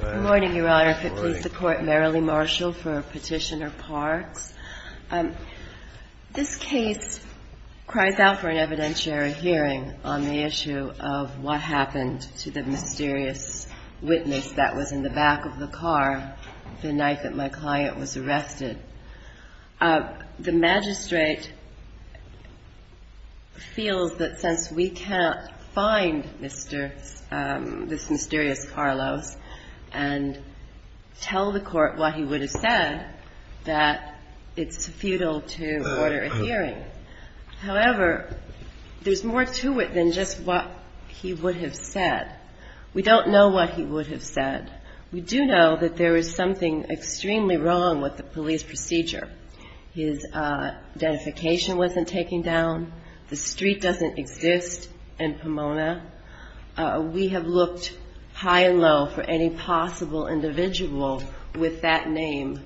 Good morning, Your Honor. If it please the Court, Merrilee Marshall for Petitioner-Parks. This case cries out for an evidentiary hearing on the issue of what happened to the mysterious witness that was in the back of the car the night that my client was arrested. The magistrate feels that since we can't find this mysterious Carlos and tell the Court what he would have said, that it's futile to order a hearing. However, there's more to it than just what he would have said. We don't know what he would have said. We do know that there is something extremely wrong with the police procedure. His identification wasn't taken down. The street doesn't exist in Pomona. We have looked high and low for any possible individual with that name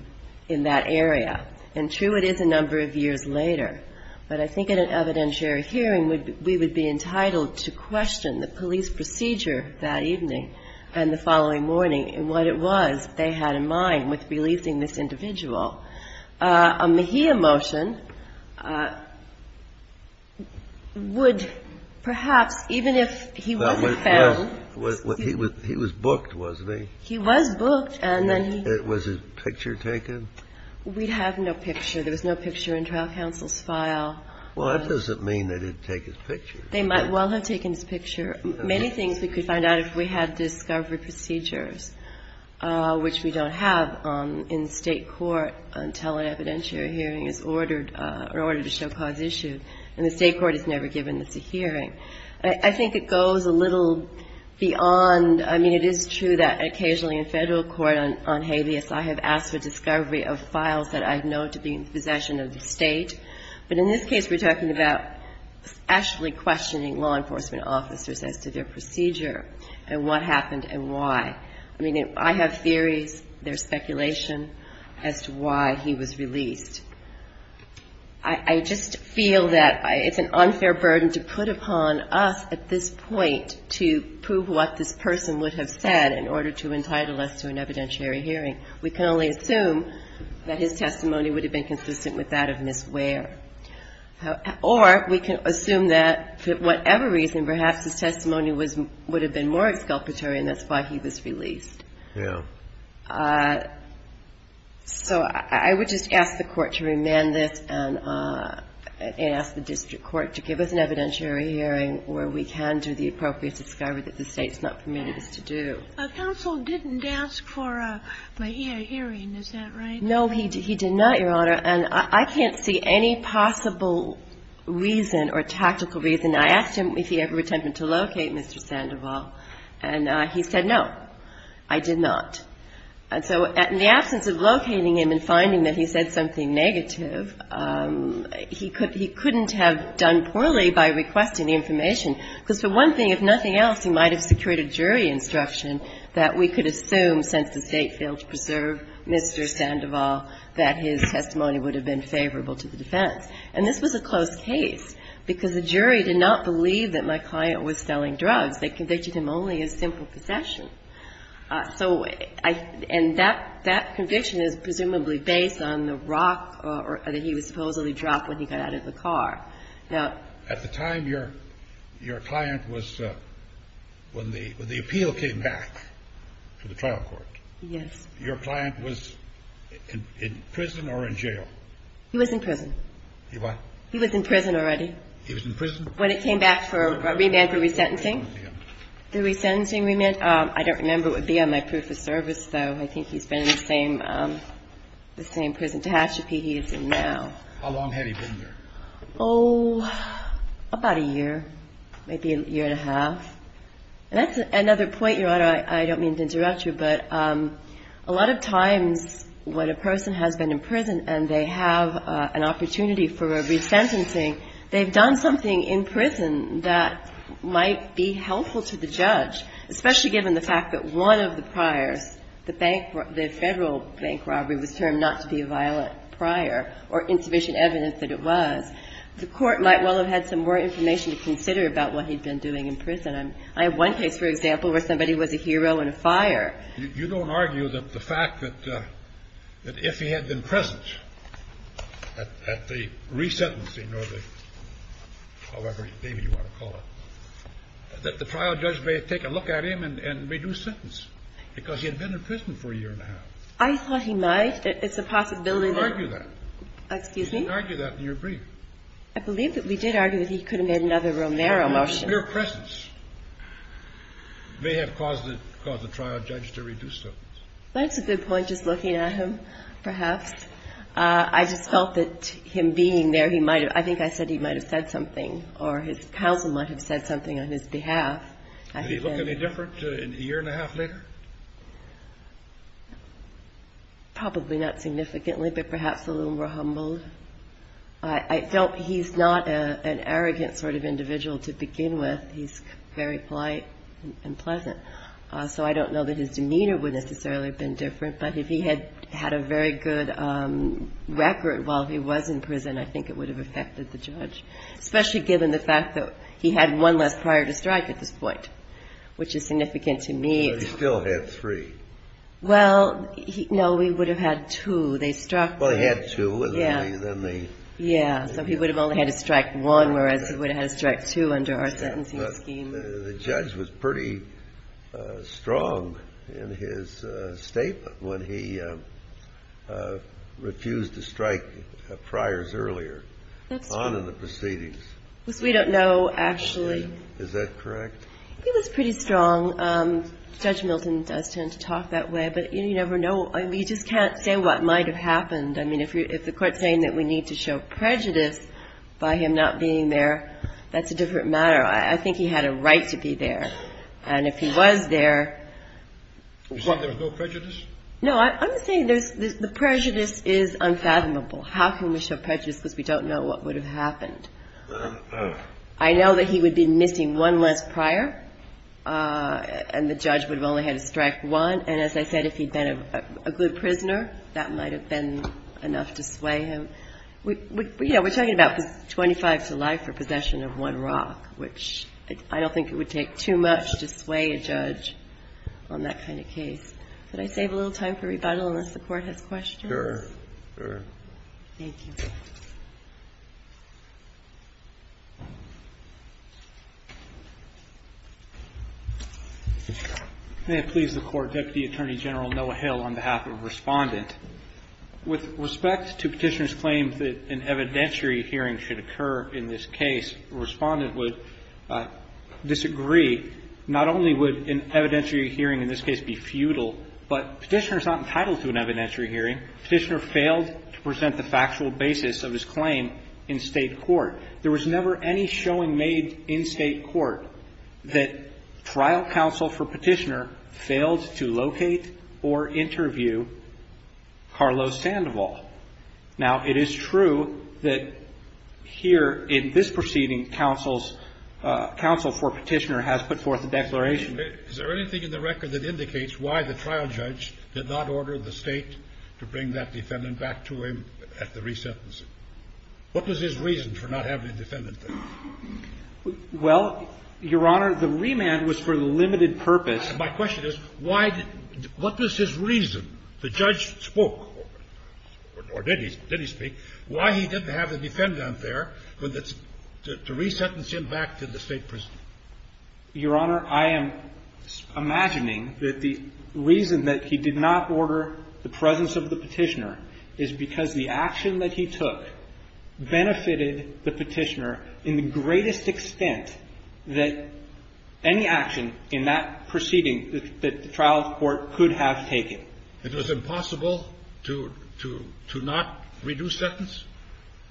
in that area. And true, it is a number of years later. But I think at an evidentiary hearing, we would be entitled to question the police procedure that evening and the following morning and what it was they had in mind with releasing this individual. A Mejia motion would perhaps, even if he wasn't found... He was booked, wasn't he? He was booked. Was his picture taken? We have no picture. There was no picture in trial counsel's file. Well, that doesn't mean that he'd take his picture. They might well have taken his picture. Many things we could find out if we had discovery procedures, which we don't have in State court until an evidentiary hearing is ordered or ordered to show cause issue. And the State court is never given. It's a hearing. I think it goes a little beyond. I mean, it is true that occasionally in Federal court on habeas, I have asked for discovery of files that I know to be in possession of the State. But in this case, we're talking about actually questioning law enforcement officers as to their procedure and what happened and why. I mean, I have theories. There's speculation as to why he was released. I just feel that it's an unfair burden to put upon us at this point to prove what this person would have said in order to entitle us to an evidentiary hearing. We can only assume that his testimony would have been consistent with that of Ms. Ware. Or we can assume that, for whatever reason, perhaps his testimony would have been more exculpatory and that's why he was released. Yeah. So I would just ask the Court to remand this and ask the district court to give us an evidentiary hearing where we can do the appropriate discovery that the State's not permitted us to do. Counsel didn't ask for a hearing, is that right? No, he did not, Your Honor. And I can't see any possible reason or tactical reason. I asked him if he ever attempted to locate Mr. Sandoval, and he said, no, I did not. And so in the absence of locating him and finding that he said something negative, he couldn't have done poorly by requesting information, because for one thing else, he might have secured a jury instruction that we could assume, since the State failed to preserve Mr. Sandoval, that his testimony would have been favorable to the defense. And this was a close case, because the jury did not believe that my client was selling drugs. They convicted him only of simple possession. So I — and that — that conviction is presumably based on the rock that he was supposedly dropped when he got out of the car. Now — When the — when the appeal came back to the trial court, your client was in prison or in jail? He was in prison. He what? He was in prison already. He was in prison? When it came back for a remand for resentencing. The resentencing remand? I don't remember what would be on my proof of service, though. I think he's been in the same — the same prison — Tehachapi he is in now. How long had he been there? Oh, about a year, maybe a year and a half. And that's another point, Your Honor, I don't mean to interrupt you, but a lot of times when a person has been in prison and they have an opportunity for a resentencing, they've done something in prison that might be helpful to the judge, especially given the fact that one of the priors, the bank — the Federal bank robbery was termed not to be a violent prior or insufficient evidence that it was. The court might well have had some more information to consider about what he'd been doing in prison. I have one case, for example, where somebody was a hero in a fire. You don't argue that the fact that — that if he had been present at the resentencing or the — however, maybe you want to call it, that the trial judge may have taken a look at him and reduced sentence because he had been in prison for a year and a half. I thought he might. It's a possibility that — You don't argue that. Excuse me? You don't argue that in your brief. I believe that we did argue that he could have made another Romero motion. But his mere presence may have caused the trial judge to reduce sentence. That's a good point, just looking at him, perhaps. I just felt that him being there, he might have — I think I said he might have said something or his counsel might have said something on his behalf. Did he look any different a year and a half later? Probably not significantly, but perhaps a little more humbled. I felt he's not an arrogant sort of individual to begin with. He's very polite and pleasant. So I don't know that his demeanor would necessarily have been different. But if he had had a very good record while he was in prison, I think it would have affected the judge, especially given the fact that he had one less prior to strike at this point, which is significant to me. But he still had three. Well, no, he would have had two. They struck — Well, he had two, wasn't he? Yeah, so he would have only had to strike one, whereas he would have had to strike two under our sentencing scheme. The judge was pretty strong in his statement when he refused to strike priors earlier on in the proceedings. Which we don't know, actually. Is that correct? He was pretty strong. Judge Milton does tend to talk that way, but you never know. I mean, you just can't say what might have happened. I mean, if the court's saying that we need to show prejudice by him not being there, that's a different matter. I think he had a right to be there. And if he was there — You're saying there was no prejudice? No, I'm saying there's — the prejudice is unfathomable. How can we show prejudice because we don't know what would have happened? I know that he would be missing one less prior, and the judge would have only had to strike one. And as I said, if he'd been a good prisoner, that might have been enough to sway him. You know, we're talking about 25 to life for possession of one rock, which I don't think it would take too much to sway a judge on that kind of case. Could I save a little time for rebuttal unless the Court has questions? Sure, sure. Thank you. May it please the Court, Deputy Attorney General Noah Hill, on behalf of Respondent. With respect to Petitioner's claim that an evidentiary hearing should occur in this case, Respondent would disagree. Not only would an evidentiary hearing in this case be futile, but Petitioner's not entitled to an evidentiary hearing. Petitioner failed to present the factual basis for his claim. The factual basis of his claim in State court. There was never any showing made in State court that trial counsel for Petitioner failed to locate or interview Carlos Sandoval. Now, it is true that here in this proceeding, counsel for Petitioner has put forth a declaration. Is there anything in the record that indicates why the trial judge did not order the State to bring that defendant back to him at the resentencing? What was his reason for not having the defendant there? Well, Your Honor, the remand was for the limited purpose. My question is, what was his reason? The judge spoke, or did he speak, why he didn't have the defendant there to resentence him back to the State prison? Your Honor, I am imagining that the reason that he did not order the presence of the Petitioner is because the action that he took benefited the Petitioner in the greatest extent that any action in that proceeding that the trial court could have taken. It was impossible to not reduce sentence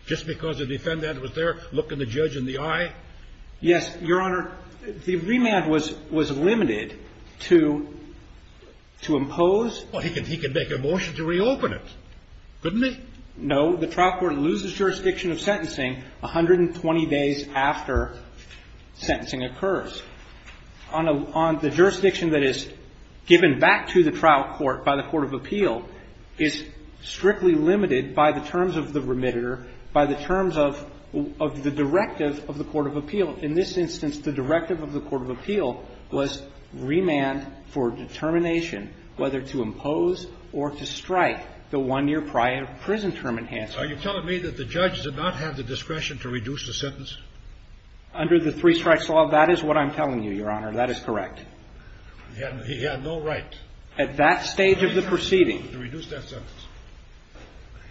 just because the defendant was there, look in the judge in the eye? Yes, Your Honor. The remand was limited to impose. Well, he could make a motion to reopen it, couldn't he? No. The trial court loses jurisdiction of sentencing 120 days after sentencing occurs. The jurisdiction that is given back to the trial court by the court of appeal is strictly limited by the terms of the remitter, by the terms of the directive of the court of appeal. In this instance, the directive of the court of appeal was remand for determination whether to impose or to strike the one-year prison term enhancement. Are you telling me that the judge did not have the discretion to reduce the sentence? Under the three-strikes law, that is what I'm telling you, Your Honor. That is correct. He had no right. At that stage of the proceeding. To reduce that sentence.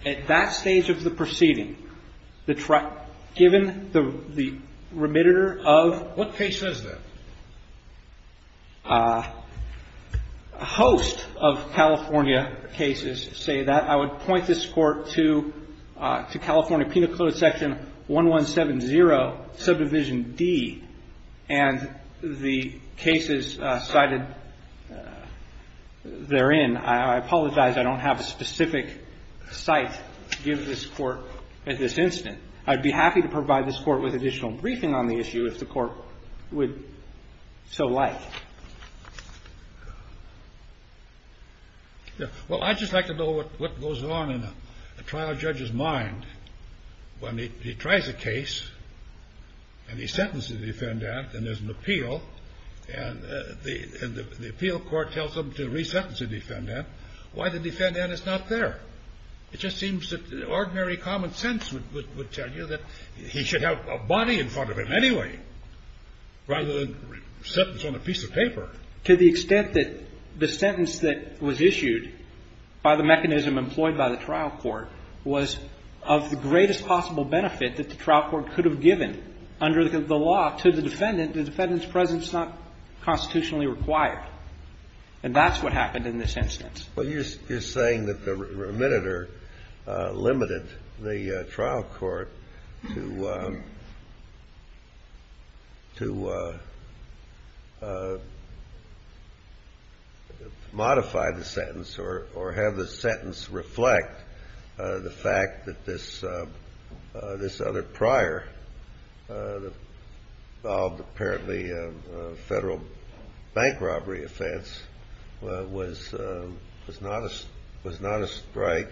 At that stage of the proceeding, given the remitter of. What case says that? A host of California cases say that. I would point this court to California Penal Code section 1170 subdivision D and the cases cited therein. I apologize I don't have a specific site to give this court at this instant. I'd be happy to provide this court with additional briefing on the issue if the court would so like. Well, I'd just like to know what goes on in a trial judge's mind when he tries a case and he sentences the defendant and there's an appeal. And the appeal court tells him to re-sentence the defendant. Why the defendant is not there? It just seems that ordinary common sense would tell you that he should have a body in front of him anyway. Rather than sentence on a piece of paper. To the extent that the sentence that was issued by the mechanism employed by the trial court was of the greatest possible benefit that the trial court could have given under the law to the defendant. The defendant's presence is not constitutionally required. And that's what happened in this instance. But you're saying that the remitter limited the trial court to modify the sentence or have the sentence reflect the fact that this other prior, apparently federal bank robbery offense was not a strike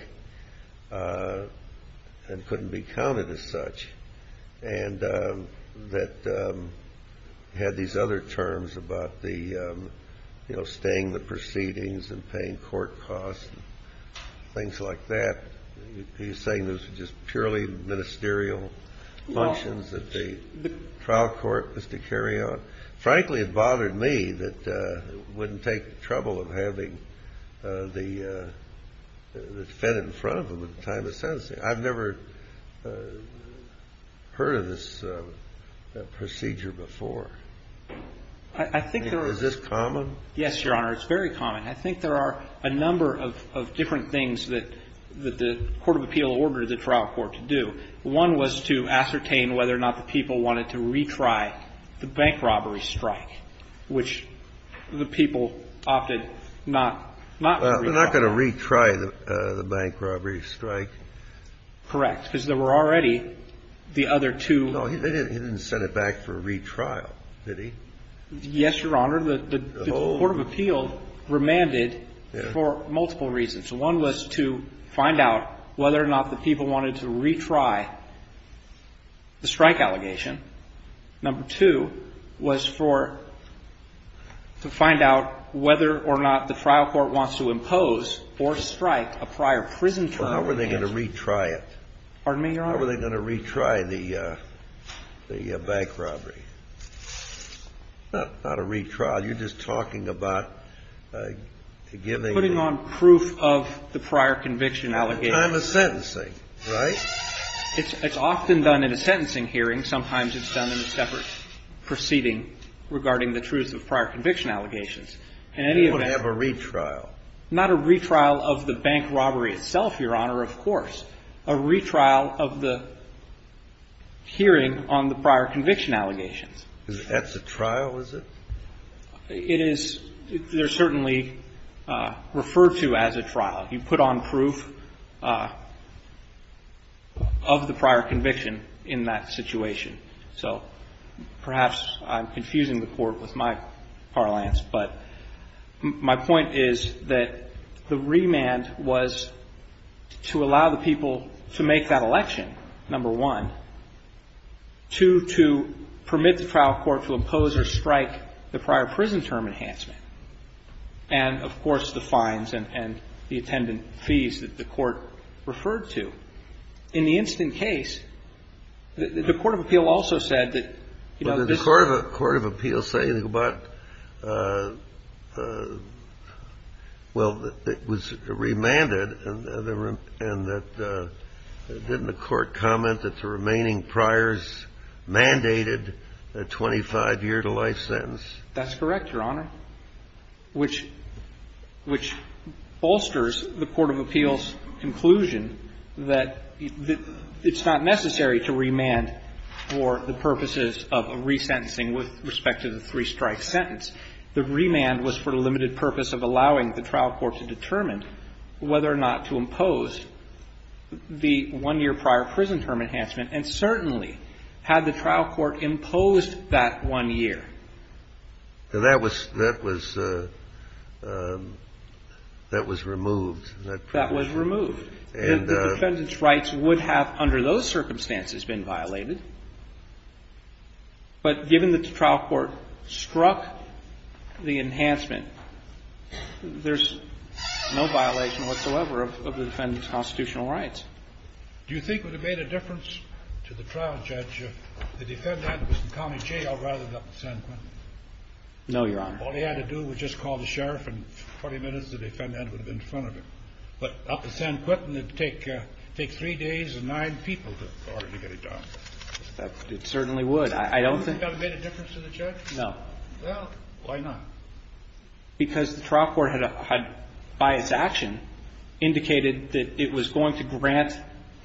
and couldn't be counted as such. And that had these other terms about the, you know, staying the proceedings and paying court costs and things like that. He's saying those were just purely ministerial functions that the trial court was to carry on? Frankly, it bothered me that it wouldn't take the trouble of having the defendant in front of him at the time of sentencing. I've never heard of this procedure before. I think there is. Is this common? Yes, Your Honor. It's very common. I think there are a number of different things that the court of appeal ordered the trial court to do. One was to ascertain whether or not the people wanted to retry the bank robbery strike, which the people opted not to retry. They're not going to retry the bank robbery strike? Correct. Because there were already the other two. No, he didn't set it back for a retrial, did he? Yes, Your Honor. The court of appeal remanded for multiple reasons. One was to find out whether or not the people wanted to retry the strike allegation. Number two was for to find out whether or not the trial court wants to impose or strike a prior prison trial. How were they going to retry it? Pardon me, Your Honor? How were they going to retry the bank robbery? Not a retrial. You're just talking about giving them the... Putting on proof of the prior conviction allegations. At the time of sentencing, right? It's often done in a sentencing hearing. Sometimes it's done in a separate proceeding regarding the truth of prior conviction allegations. In any event... They wouldn't have a retrial. Not a retrial of the bank robbery itself, Your Honor, of course. A retrial of the hearing on the prior conviction allegations. That's a trial, is it? It is. They're certainly referred to as a trial. You put on proof of the prior conviction in that situation. So perhaps I'm confusing the court with my parlance. But my point is that the remand was to allow the people to make that election, number one. Two, to permit the trial court to impose or strike the prior prison term enhancement. And, of course, the fines and the attendant fees that the court referred to. In the instant case, the Court of Appeal also said that... Well, did the Court of Appeal say anything about... Well, that it was remanded and that... Didn't the Court comment that the remaining priors mandated a 25-year-to-life sentence? That's correct, Your Honor. Which bolsters the Court of Appeal's conclusion that it's not necessary to remand for the purposes of a resentencing with respect to the three-strike sentence. The remand was for the limited purpose of allowing the trial court to determine whether or not to impose the one-year prior prison term enhancement. And certainly had the trial court imposed that one year... That was removed. That was removed. The defendant's rights would have, under those circumstances, been violated. But given that the trial court struck the enhancement, there's no violation whatsoever of the defendant's constitutional rights. Do you think it would have made a difference to the trial judge if the defendant was in County Jail rather than up in San Quentin? No, Your Honor. All he had to do was just call the sheriff, and in 20 minutes the defendant would have been in front of him. But up in San Quentin, it would take three days and nine people in order to get it done. It certainly would. I don't think... Do you think that would have made a difference to the judge? No. Well, why not? Because the trial court had, by its action, indicated that it was going to grant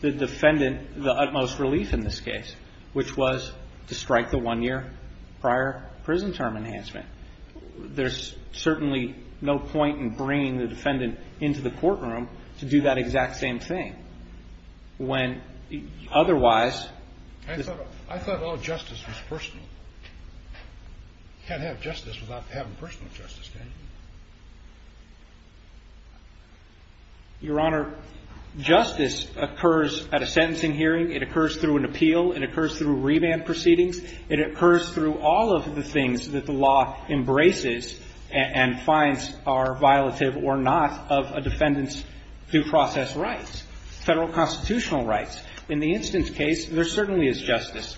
the defendant the utmost relief in this case, which was to strike the one-year prior prison term enhancement. There's certainly no point in bringing the defendant into the courtroom to do that exact same thing. When otherwise... I thought all justice was personal. You can't have justice without having personal justice, can you? Your Honor, justice occurs at a sentencing hearing. It occurs through an appeal. It occurs through revamp proceedings. It occurs through all of the things that the law embraces and finds are violative or not of a defendant's due process rights. Federal constitutional rights. In the instance case, there certainly is justice.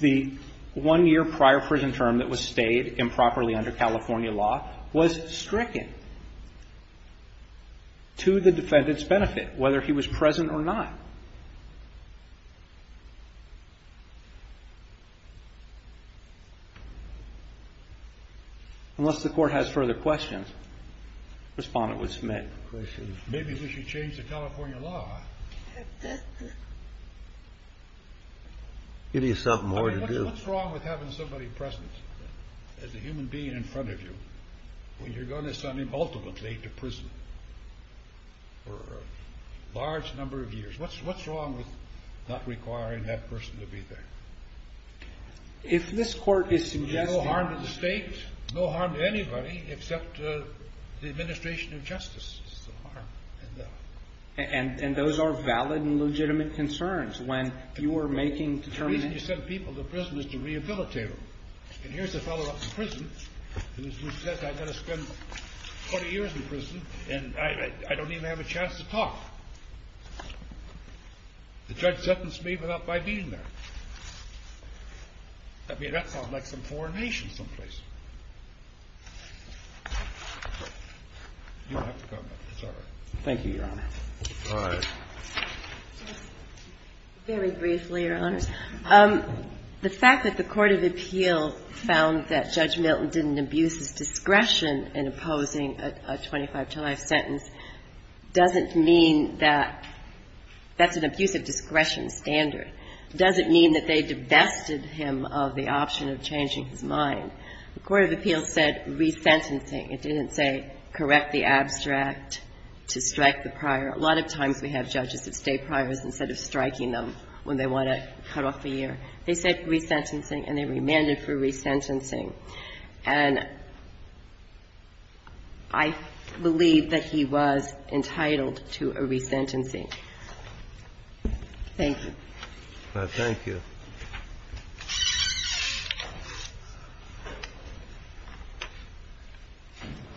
The one-year prior prison term that was stayed improperly under California law was stricken to the defendant's benefit, whether he was present or not. Unless the Court has further questions, the Respondent would submit. Maybe we should change the California law. Give you something more to do. What's wrong with having somebody present as a human being in front of you when you're going to send him ultimately to prison for a large number of years? What's wrong with not requiring that person to be there? If this Court is suggesting... It's a question of justice. And those are valid and legitimate concerns when you are making determinations... The reason you send people to prison is to rehabilitate them. And here's a fellow up in prison who says I'm going to spend 20 years in prison and I don't even have a chance to talk. The judge sentenced me without my being there. I mean, that sounds like some foreign nation someplace. Thank you, Your Honor. All right. Very briefly, Your Honors. The fact that the court of appeals found that Judge Milton didn't abuse his discretion in opposing a 25-to-life sentence doesn't mean that that's an abuse of discretion standard. It doesn't mean that they divested him of the option of changing his mind. The court of appeals said resentencing. It didn't say correct the abstract to strike the prior. A lot of times we have judges that stay priors instead of striking them when they want to cut off a year. They said resentencing and they remanded for resentencing. And I believe that he was entitled to a resentencing. Thank you. Thank you. Thank you.